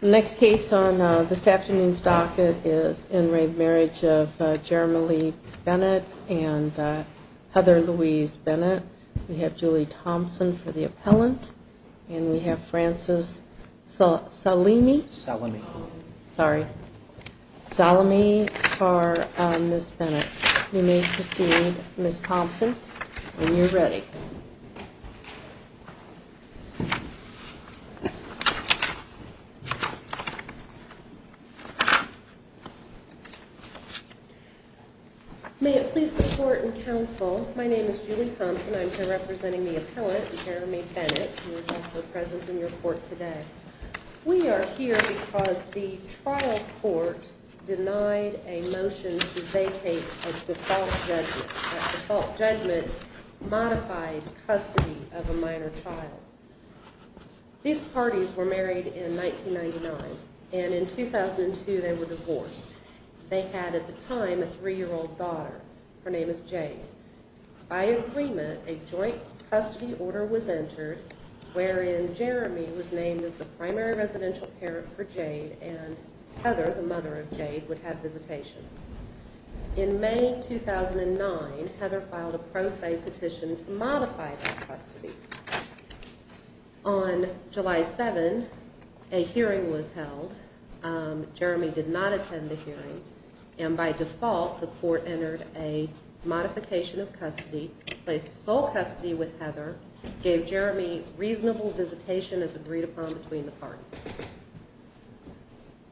next case on this afternoon's docket is in re marriage of Jeremy Bennett and Heather Louise Bennett we have Julie Thompson for the appellant and we have Francis Salimi Salami sorry Salami for Miss Bennett you may proceed Miss Thompson when you're ready may it please the court and counsel my name is Julie Thompson I'm here representing the appellant Jeremy Bennett present in your court today we are here because the trial court denied a motion to vacate a default judgment modified custody of a minor child these parties were married in 1999 and in 2002 they were divorced they had at the time a three-year-old daughter her name is Jade by agreement a joint custody order was entered wherein Jeremy was named as the primary residential parent for Jade and Heather the mother of Jade would have visitation in May 2009 Heather filed a pro se petition to modify custody on July 7 a hearing was held Jeremy did not attend the hearing and by default the court entered a modification of custody placed sole custody with Heather gave Jeremy reasonable visitation as agreed upon between the parties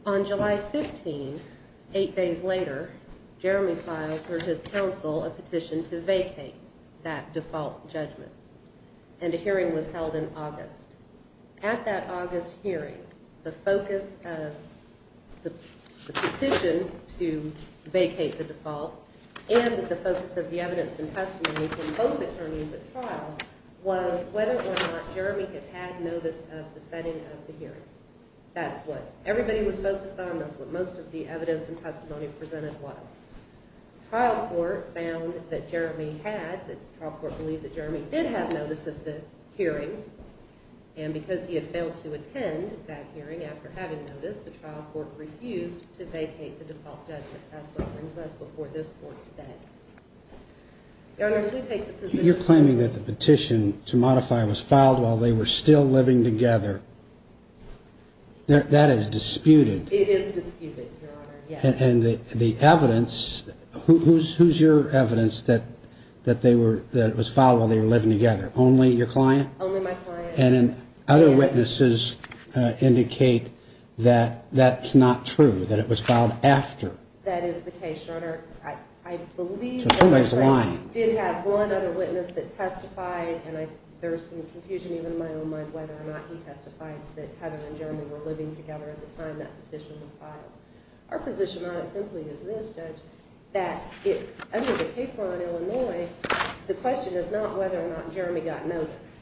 on July 15 eight days later Jeremy filed for his counsel a petition to vacate that default judgment and a hearing was held in August at that August hearing the focus of the petition to vacate the default and the focus of the evidence and testimony from both attorneys at that's what everybody was focused on that's what most of the evidence and testimony presented was trial court found that Jeremy had that probably the Jeremy did have notice of the hearing and because he had failed to attend that hearing after having noticed the trial court refused to vacate the default judgment before this court today you're claiming that the petition to that is disputed and the evidence who's who's your evidence that that they were that was followed they were living together only your client and other witnesses indicate that that's not true that it was filed after we're living together at the time that petition was filed our position on it simply is this judge that if under the case law in Illinois the question is not whether or not Jeremy got notice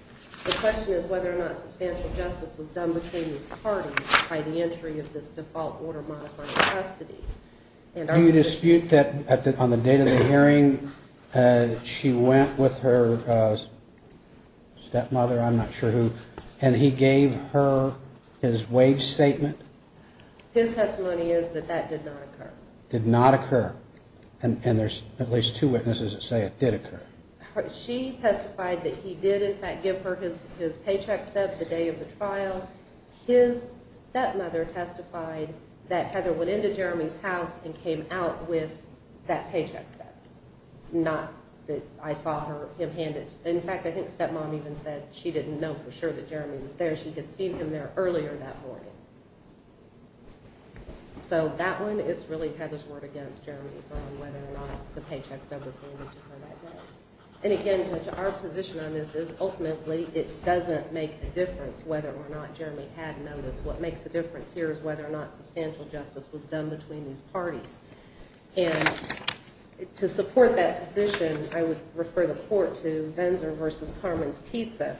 the question is whether or not substantial justice was done between these parties by the entry of this default order modifying custody and I dispute that on the date of the hearing she went with her stepmother I'm not sure who and he gave her his wage statement his testimony is that that did not occur did not occur and there's at least two witnesses that say it did occur she testified that he did in fact give her his his paycheck step the day of the trial his stepmother testified that Heather went into Jeremy's house and came out with that paycheck not that I saw her him hand it in fact I think stepmom even said she didn't know for sure that Jeremy was there she had seen him there earlier that morning so that one it's really Heather's word against Jeremy's on whether or not the paycheck service and again to our position on this is ultimately it doesn't make a difference whether or not Jeremy had noticed what makes the difference here is whether or not substantial justice was done between these parties and to support that position I would refer the court to Benzer versus Carmen's pizza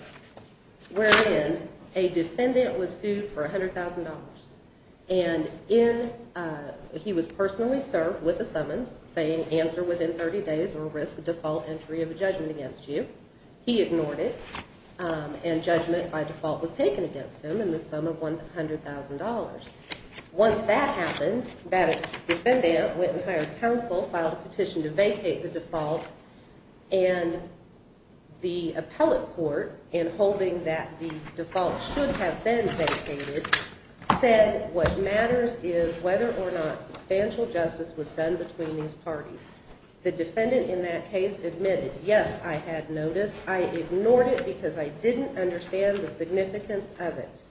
where in a defendant was sued for $100,000 and in he was personally served with a summons saying answer within 30 days or risk a default entry of a judgment against you he ignored it and judgment by default was taken against him in the sum of $100,000 once that happened that defendant went and hired counsel filed a petition to vacate the default and the appellate court in holding that the default should have been vacated said what matters is whether or not substantial justice was done between these parties the defendant in that case admitted yes I had noticed I ignored it because I didn't understand the significance of it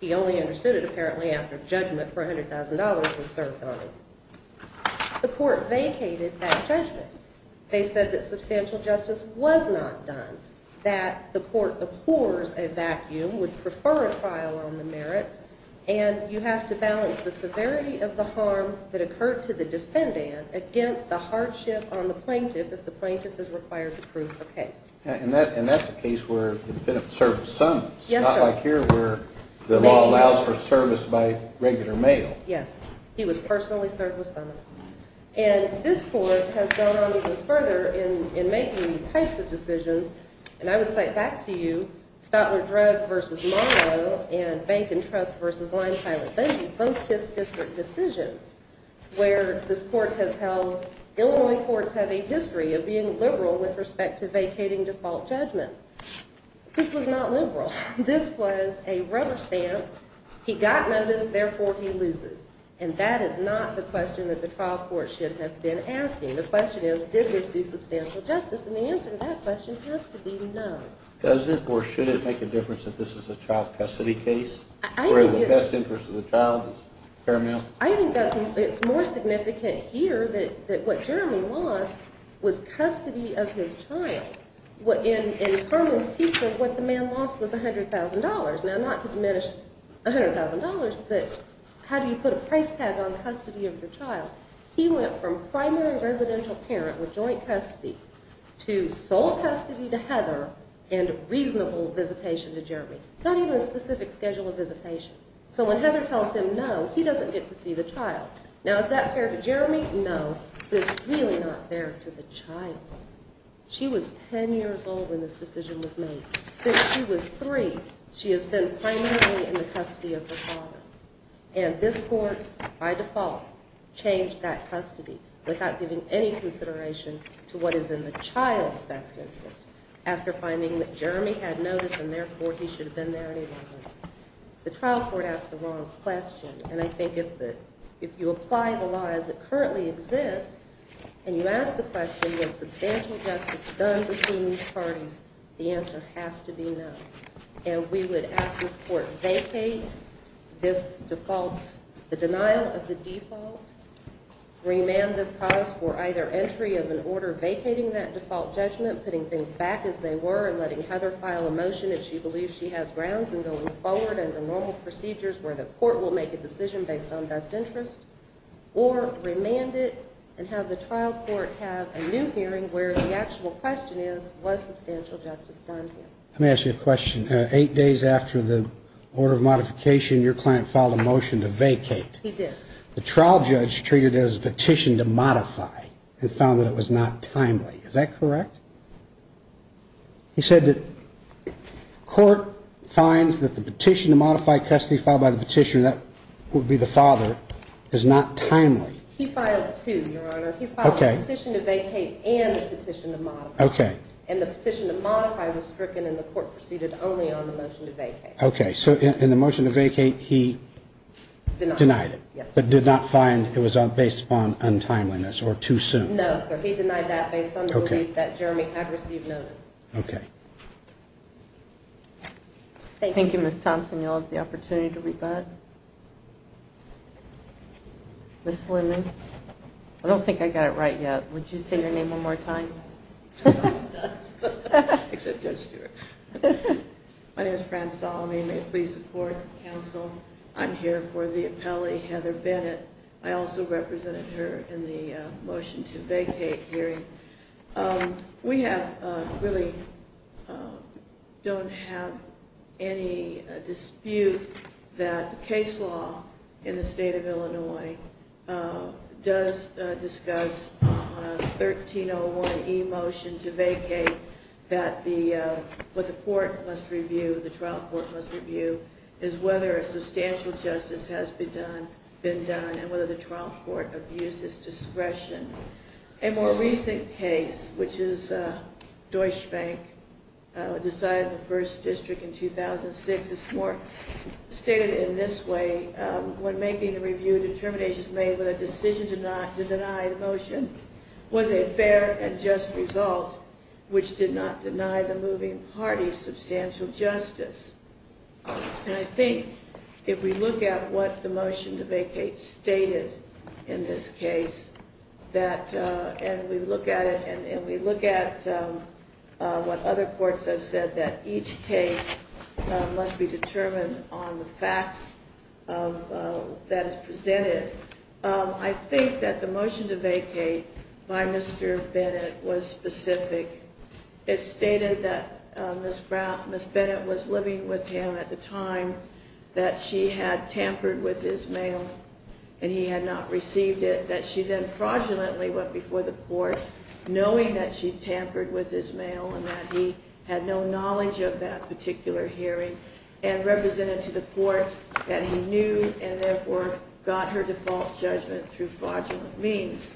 he only understood it apparently after $100,000 was served on him the court vacated that judgment they said that substantial justice was not done that the court abhors a vacuum would prefer a trial on the merits and you have to balance the severity of the harm that occurred to the defendant against the hardship on the plaintiff if the plaintiff is required to prove the case and that and that's a case where the law allows for service by regular mail yes he was personally served with summons and this court has gone on even further in making these types of decisions and I would say back to you Stotler Drug versus Monroe and Bank and Trust versus Lime Pilot Benji both fifth district decisions where this court has held Illinois courts have a history of being liberal with respect to vacating default judgments this was not liberal this was a rubber stamp he got noticed therefore he loses and that is not the question that the trial court should have been asking the question is did this do substantial justice and the answer to that question has to be no does it or should it make a difference that this is a child custody case I think the best interest of the child is paramount I think it's more significant here that what Jeremy lost was custody of his child what in in Herman's people what the man lost was $100,000 now not to diminish $100,000 but how do you put a price tag on custody of your child he went from primary residential parent with joint custody to sole custody to Heather and reasonable visitation to Jeremy not even a specific schedule of visitation so when Heather tells him no he doesn't get to see the child now is that fair to Jeremy no it's really not fair to the child she was 10 years old when this decision was made since she was three she has been primarily in the custody of the father and this court by default changed that custody without giving any consideration to what is in the child's best interest after finding that Jeremy had noticed and therefore he should have been there and he wasn't the currently exists and you ask the question was substantial justice done between these parties the answer has to be no and we would ask this court vacate this default the denial of the default remand this cause for either entry of an order vacating that default judgment putting things back as they were and letting Heather file a motion if she believes she has grounds and going forward and the normal procedures where the court will make a decision based on the child's best interest or remand it and have the trial court have a new hearing where the actual question is was substantial justice done here. Let me ask you a question. Eight days after the order of modification your client filed a motion to vacate. He did. The trial judge treated it as a petition to modify and found that it was not timely. Is that correct? He said that court finds that the petition to modify custody filed by the petitioner that would be the father is not timely. He filed two, your honor. He filed a petition to vacate and a petition to modify. Okay. And the petition to modify was stricken and the court proceeded only on the motion to vacate. Okay. So in the motion to vacate he denied it but did not find it was based upon untimeliness or too soon. No, sir. He denied that based on the belief that Jeremy had received notice. Okay. Thank you, Ms. Thompson. You'll have the opportunity to rebut. Ms. Linden, I don't think I got it right yet. Would you say your name one more time? Except Judge Stewart. My name is Fran Salami. May it please support the council. I'm here for the appellee, Heather Bennett. I also represented her in the motion to vacate hearing. We have really don't have any dispute that the case law in the state of Illinois does discuss 1301E motion to vacate that the, what the court must review, the trial court must review is whether a substantial justice has been done and whether the trial court has used its discretion. A more recent case, which is Deutsche Bank decided the first district in 2006, it's more stated in this way, when making a review of determinations made with a decision to deny the motion, was a fair and just result, which did not deny the moving party substantial justice. And I think if we look at what the motion to vacate stated in this case, that and we look at it and we look at what other courts have said, that each case must be determined on the facts of that is presented. I think that the motion to vacate by Mr. Bennett was specific. It stated that Ms. Bennett was living with him at the time that she had tampered with his mail and he had not received it, that she then fraudulently went before the court knowing that she tampered with his mail and that he had no knowledge of that particular hearing and represented to the court that he knew and therefore got her default judgment through fraudulent means.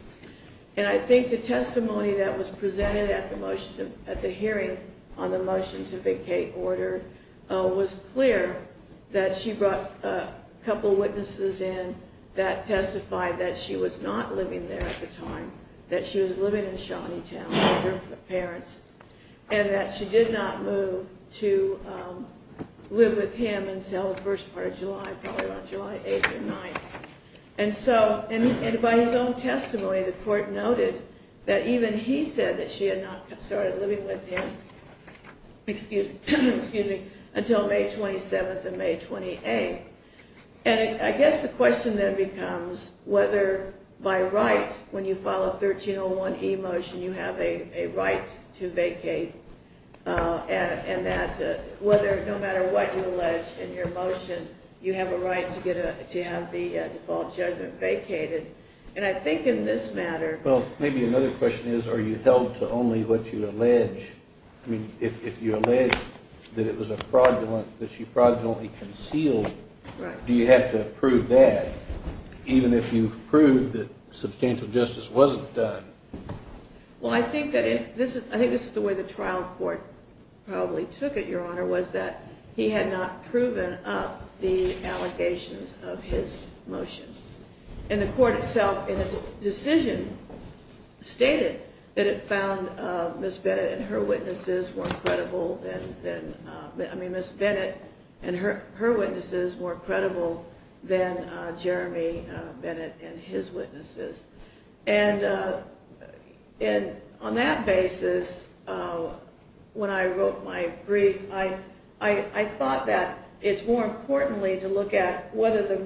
And I think the testimony that was presented at the hearing on the motion to vacate order was clear that she brought a couple witnesses in that testified that she was not living there at the time, that she was living in Shawneetown with her parents, and that she did not move to live with him until the first part of July, probably about July 8th or 9th. And so, and by his own testimony, the court noted that even he said that she had not started living with him until May 27th and May 28th. And I guess the question then becomes whether by right, when you file a 1301E motion, you have a right to vacate, and that no matter what you allege in your motion, you have a right to have the default judgment vacated. And I think in this matter... Well, maybe another question is, are you held to only what you allege? I mean, if you allege that it was a fraudulent, that she fraudulently concealed, do you have to prove that, even if you've proved that substantial justice wasn't done? Well, I think this is the way the trial court probably took it, Your Honor, was that he had not proven up the allegations of his motion. And the court itself, in its decision, stated that it found Ms. Bennett and her witnesses more credible than... I mean, Ms. Bennett and her witnesses more credible than Jeremy Bennett and his witnesses. And on that basis, when I wrote my brief, I thought that it's more importantly to look at whether the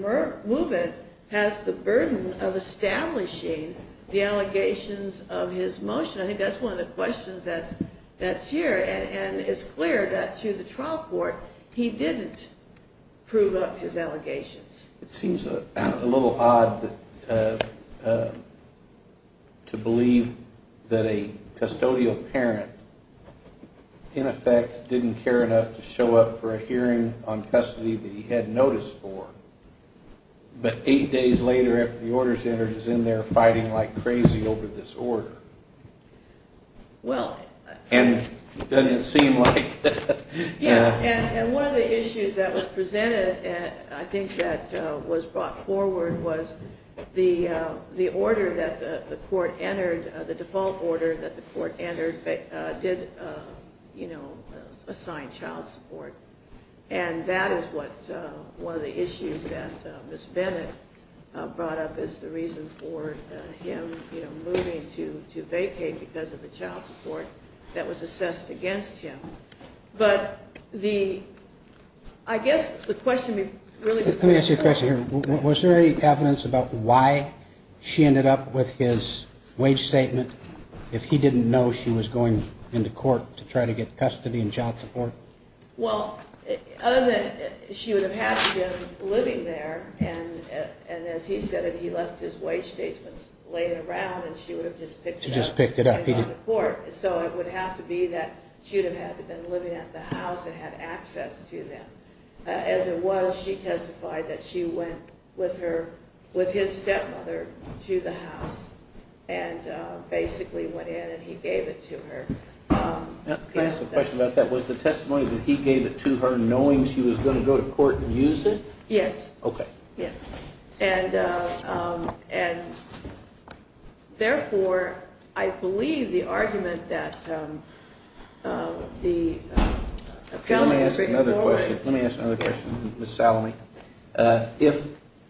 movement has the burden of establishing the allegations of his motion. I think that's one of the questions that's here. And it's clear that to the trial court, he didn't prove up his allegations. It seems a little odd to believe that a custodial parent, in effect, didn't care enough to show up for a hearing on custody that he had notice for, but eight days later, after the order's entered, is in there fighting like crazy over this order. Well... And doesn't it seem like... Yes, and one of the issues that was presented, I think that was brought forward, was the order that the court entered, the default order that the court entered, did assign child support. And that is what one of the issues that Ms. Bennett brought up as the reason for him moving to vacate because of the child support that was assessed against him. But the... I guess the question is really... Let me ask you a question here. Was there any evidence about why she ended up with his wage statement if he didn't know she was going into court to try to get custody and child support? Well, other than she would have had to have been living there, and as he said, he left his wage statement laying around, and she would have just picked it up. She just picked it up. So it would have to be that she would have been living at the house and had access to them. As it was, she testified that she went with his stepmother to the house and basically went in and he gave it to her. Can I ask a question about that? Was the testimony that he gave it to her knowing she was going to go to court and use it? Yes. Okay. Yes. And, therefore, I believe the argument that the appellant was bringing forward... Let me ask another question. Let me ask another question, Ms. Salome.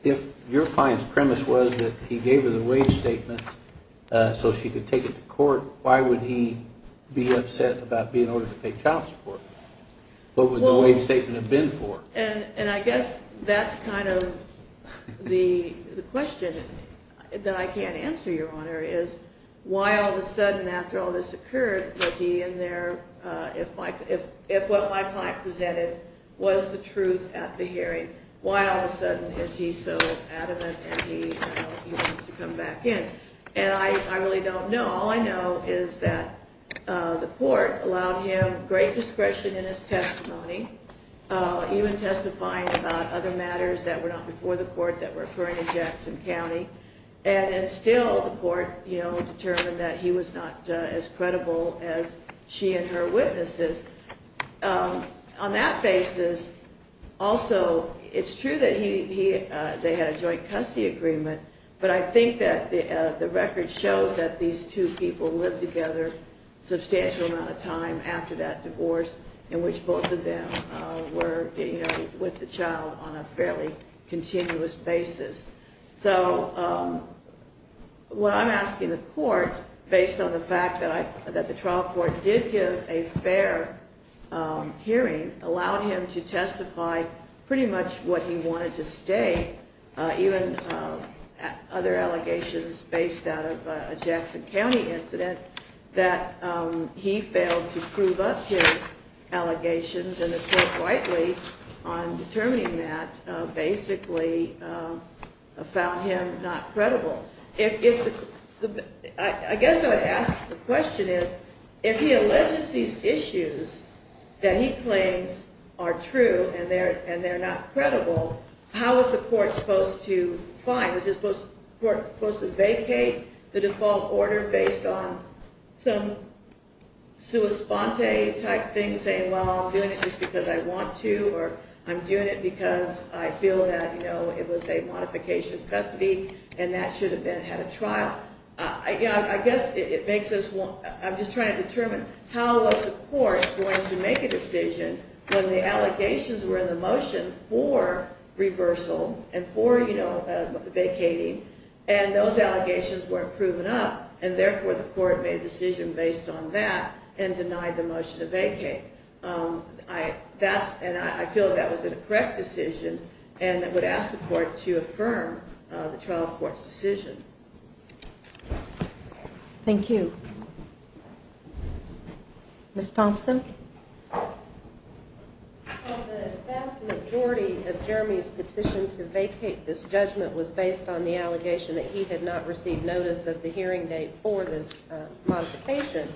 If your client's premise was that he gave her the wage statement so she could take it to court, why would he be upset about being ordered to pay child support? What would the wage statement have been for? And I guess that's kind of the question that I can't answer, Your Honor, is why all of a sudden after all this occurred was he in there... If what my client presented was the truth at the hearing, why all of a sudden is he so adamant that he wants to come back in? And I really don't know. All I know is that the court allowed him great discretion in his testimony even testifying about other matters that were not before the court that were occurring in Jackson County, and still the court determined that he was not as credible as she and her witnesses. On that basis, also, it's true that they had a joint custody agreement, but I think that the record shows that these two people lived together a substantial amount of time after that divorce in which both of them were with the child on a fairly continuous basis. So what I'm asking the court, based on the fact that the trial court did give a fair hearing, allowed him to testify pretty much what he wanted to state, even other allegations based out of a Jackson County incident, that he failed to prove up his allegations, and the court rightly on determining that basically found him not credible. I guess I would ask the question is if he alleges these issues that he claims are true and they're not credible, how is the court supposed to find, is the court supposed to vacate the default order based on some sua sponte type thing saying, well, I'm doing it just because I want to, or I'm doing it because I feel that, you know, it was a modification of custody, and that should have been had a trial. I guess it makes us want, I'm just trying to determine how was the court going to make a decision when the allegations were in the motion for reversal and for, you know, vacating, and those allegations weren't proven up, and therefore the court made a decision based on that and denied the motion to vacate. And I feel that was a correct decision and I would ask the court to affirm the trial court's decision. Thank you. Ms. Thompson. The vast majority of Jeremy's petition to vacate this judgment was based on the allegation that he had not received notice of the hearing date for this modification.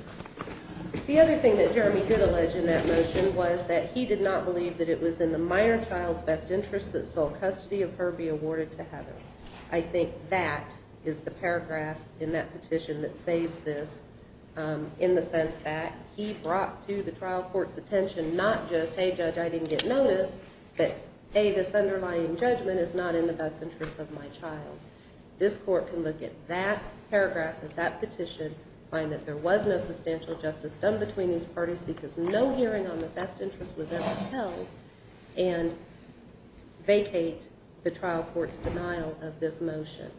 The other thing that Jeremy did allege in that motion was that he did not believe that it was in the minor child's best interest that sole custody of her be awarded to Heather. I think that is the paragraph in that petition that saves this, in the sense that he brought to the trial court's attention not just, hey, judge, I didn't get notice, but, hey, this underlying judgment is not in the best interest of my child. This court can look at that paragraph of that petition, find that there was no substantial justice done between these parties because no hearing on the best interest was ever held, and vacate the trial court's denial of this motion.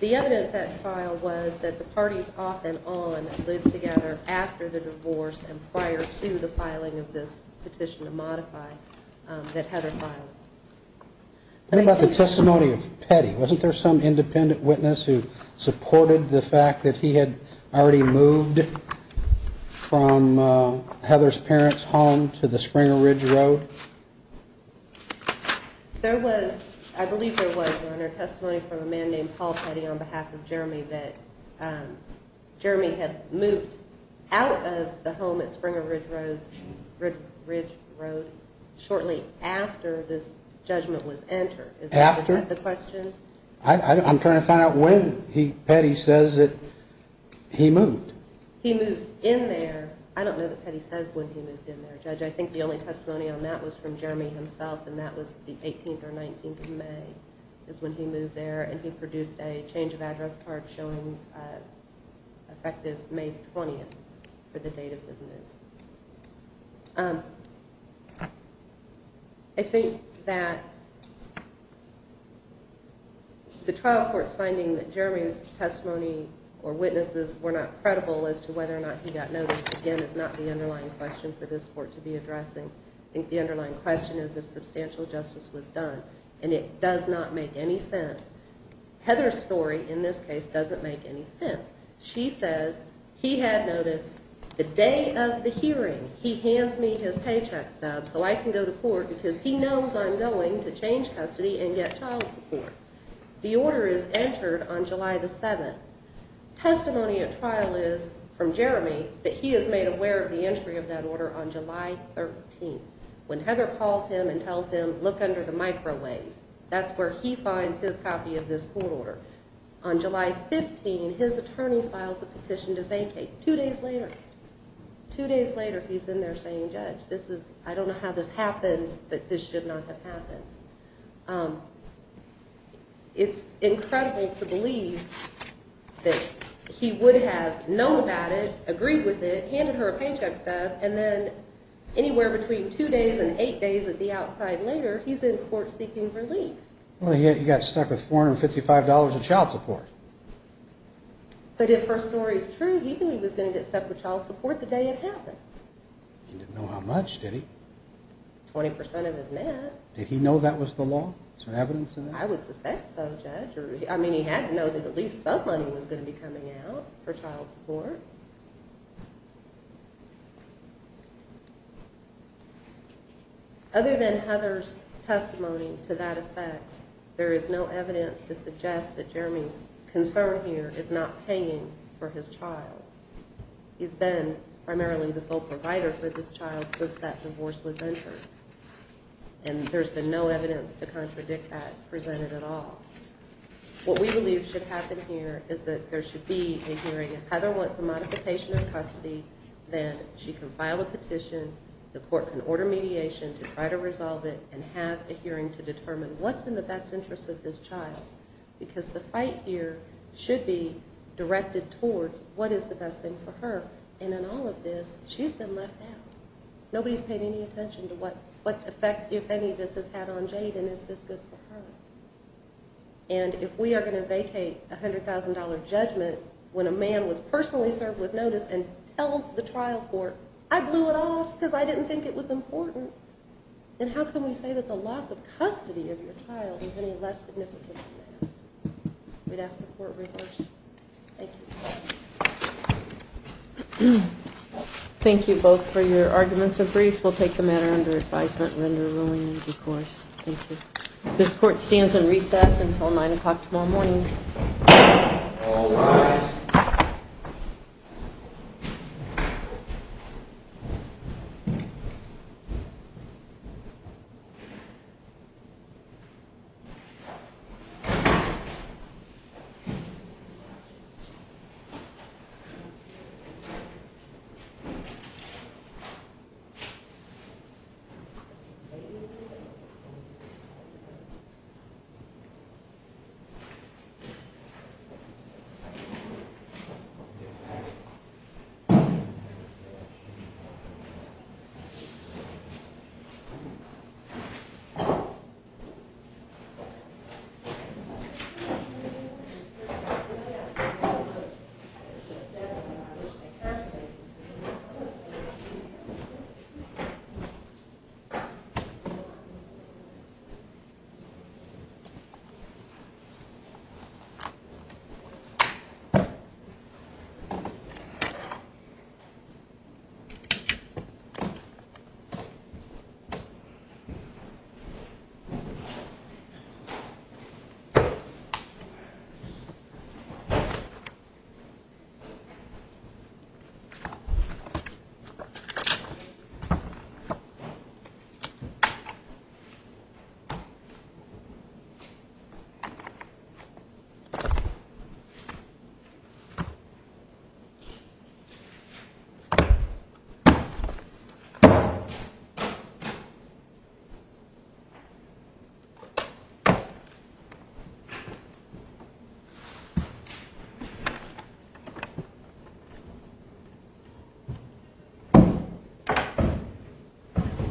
The evidence that's filed was that the parties off and on lived together after the divorce and prior to the filing of this petition to modify that Heather filed. What about the testimony of Petty? Wasn't there some independent witness who supported the fact that he had already moved from Heather's parents' home to the Springer Ridge Road? There was, I believe there was, Your Honor, testimony from a man named Paul Petty on behalf of Jeremy that Jeremy had moved out of the home at Springer Ridge Road shortly after this judgment was entered. After? Is that the question? I'm trying to find out when Petty says that he moved. He moved in there. I don't know that Petty says when he moved in there, Judge. I think the only testimony on that was from Jeremy himself, and that was the 18th or 19th of May is when he moved there, and he produced a change of address card showing effective May 20th for the date of his move. I think that the trial court's finding that Jeremy's testimony or witnesses were not credible as to whether or not he got noticed, again, is not the underlying question for this court to be addressing. I think the underlying question is if substantial justice was done, and it does not make any sense. Heather's story in this case doesn't make any sense. She says he had noticed the day of the hearing. He hands me his paycheck stub so I can go to court because he knows I'm going to change custody and get child support. The order is entered on July the 7th. Testimony at trial is from Jeremy that he is made aware of the entry of that order on July 13th when Heather calls him and tells him, look under the microwave. That's where he finds his copy of this court order. On July 15th, his attorney files a petition to vacate. Two days later, two days later, he's in there saying, Judge, I don't know how this happened, but this should not have happened. It's incredible to believe that he would have known about it, agreed with it, handed her a paycheck stub, and then anywhere between two days and eight days at the outside later, he's in court seeking relief. Well, he got stuck with $455 in child support. But if her story is true, he knew he was going to get stuck with child support the day it happened. He didn't know how much, did he? 20% of his net. Did he know that was the law? Is there evidence in there? I would suspect so, Judge. I mean, he had to know that at least some money was going to be coming out for child support. Other than Heather's testimony to that effect, there is no evidence to suggest that Jeremy's concern here is not paying for his child. He's been primarily the sole provider for this child since that divorce was entered, and there's been no evidence to contradict that presented at all. What we believe should happen here is that there should be a hearing. If Heather wants a modification of custody, then she can file a petition. The court can order mediation to try to resolve it and have a hearing to determine what's in the best interest of this child, because the fight here should be directed towards what is the best thing for her. And in all of this, she's been left out. Nobody's paid any attention to what effect, if any, this has had on Jade and is this good for her. And if we are going to vacate a $100,000 judgment when a man was personally served with notice and tells the trial court, I blew it off because I didn't think it was important, then how can we say that the loss of custody of your child is any less significant than that? We'd ask the court reverse. Thank you. Thank you both for your arguments and briefs. We'll take the matter under advisement and render rulings, of course. Thank you. This court stands in recess until 9 o'clock tomorrow morning. All rise. Thank you. Thank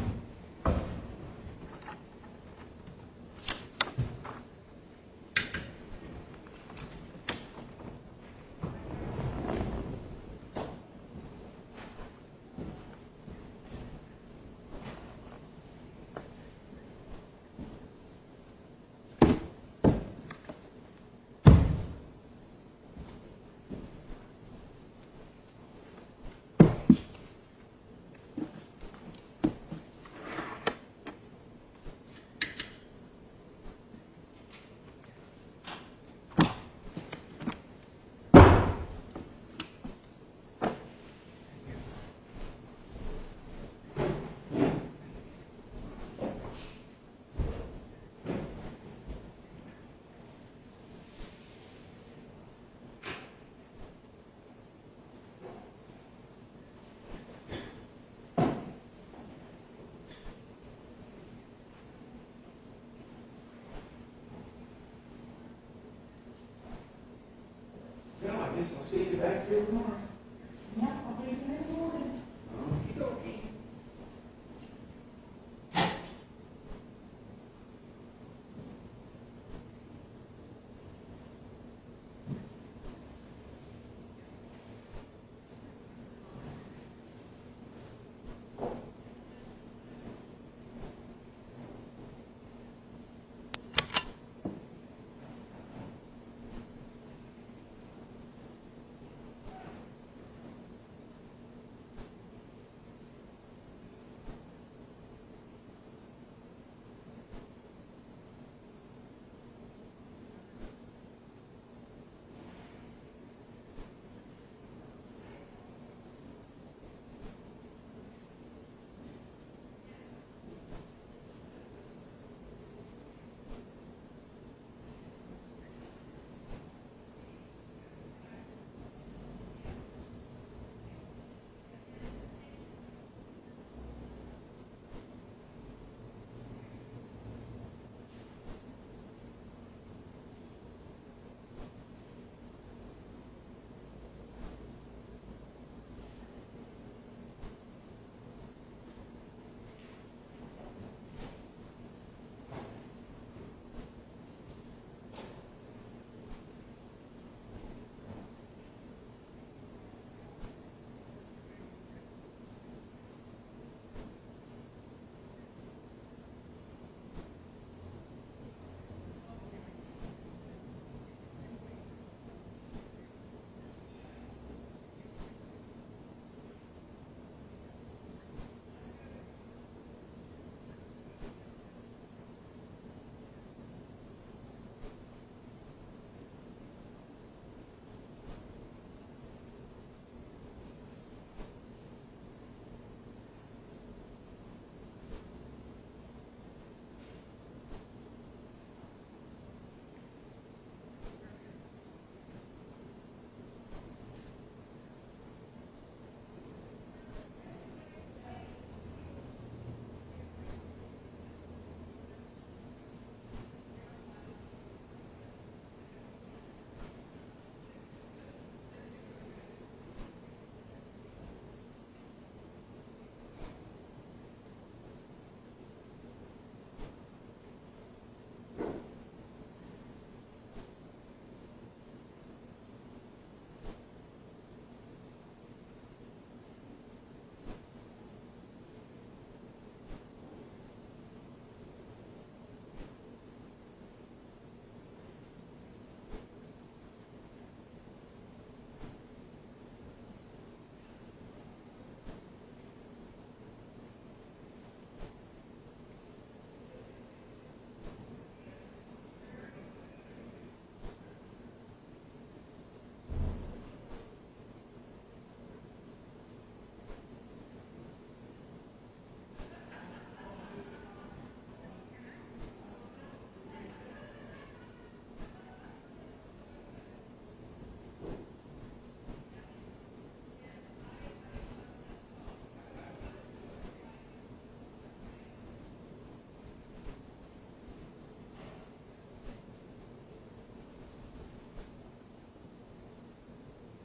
you. Thank you. Thank you. Thank you. Thank you. Well, I guess, I'll see you back here with her? Yep. I'll be here in the morning. Okay. Okay.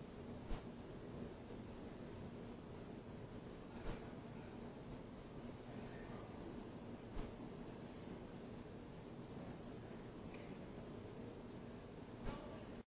Okay. Okay. Okay. Okay. Okay. Okay. Okay.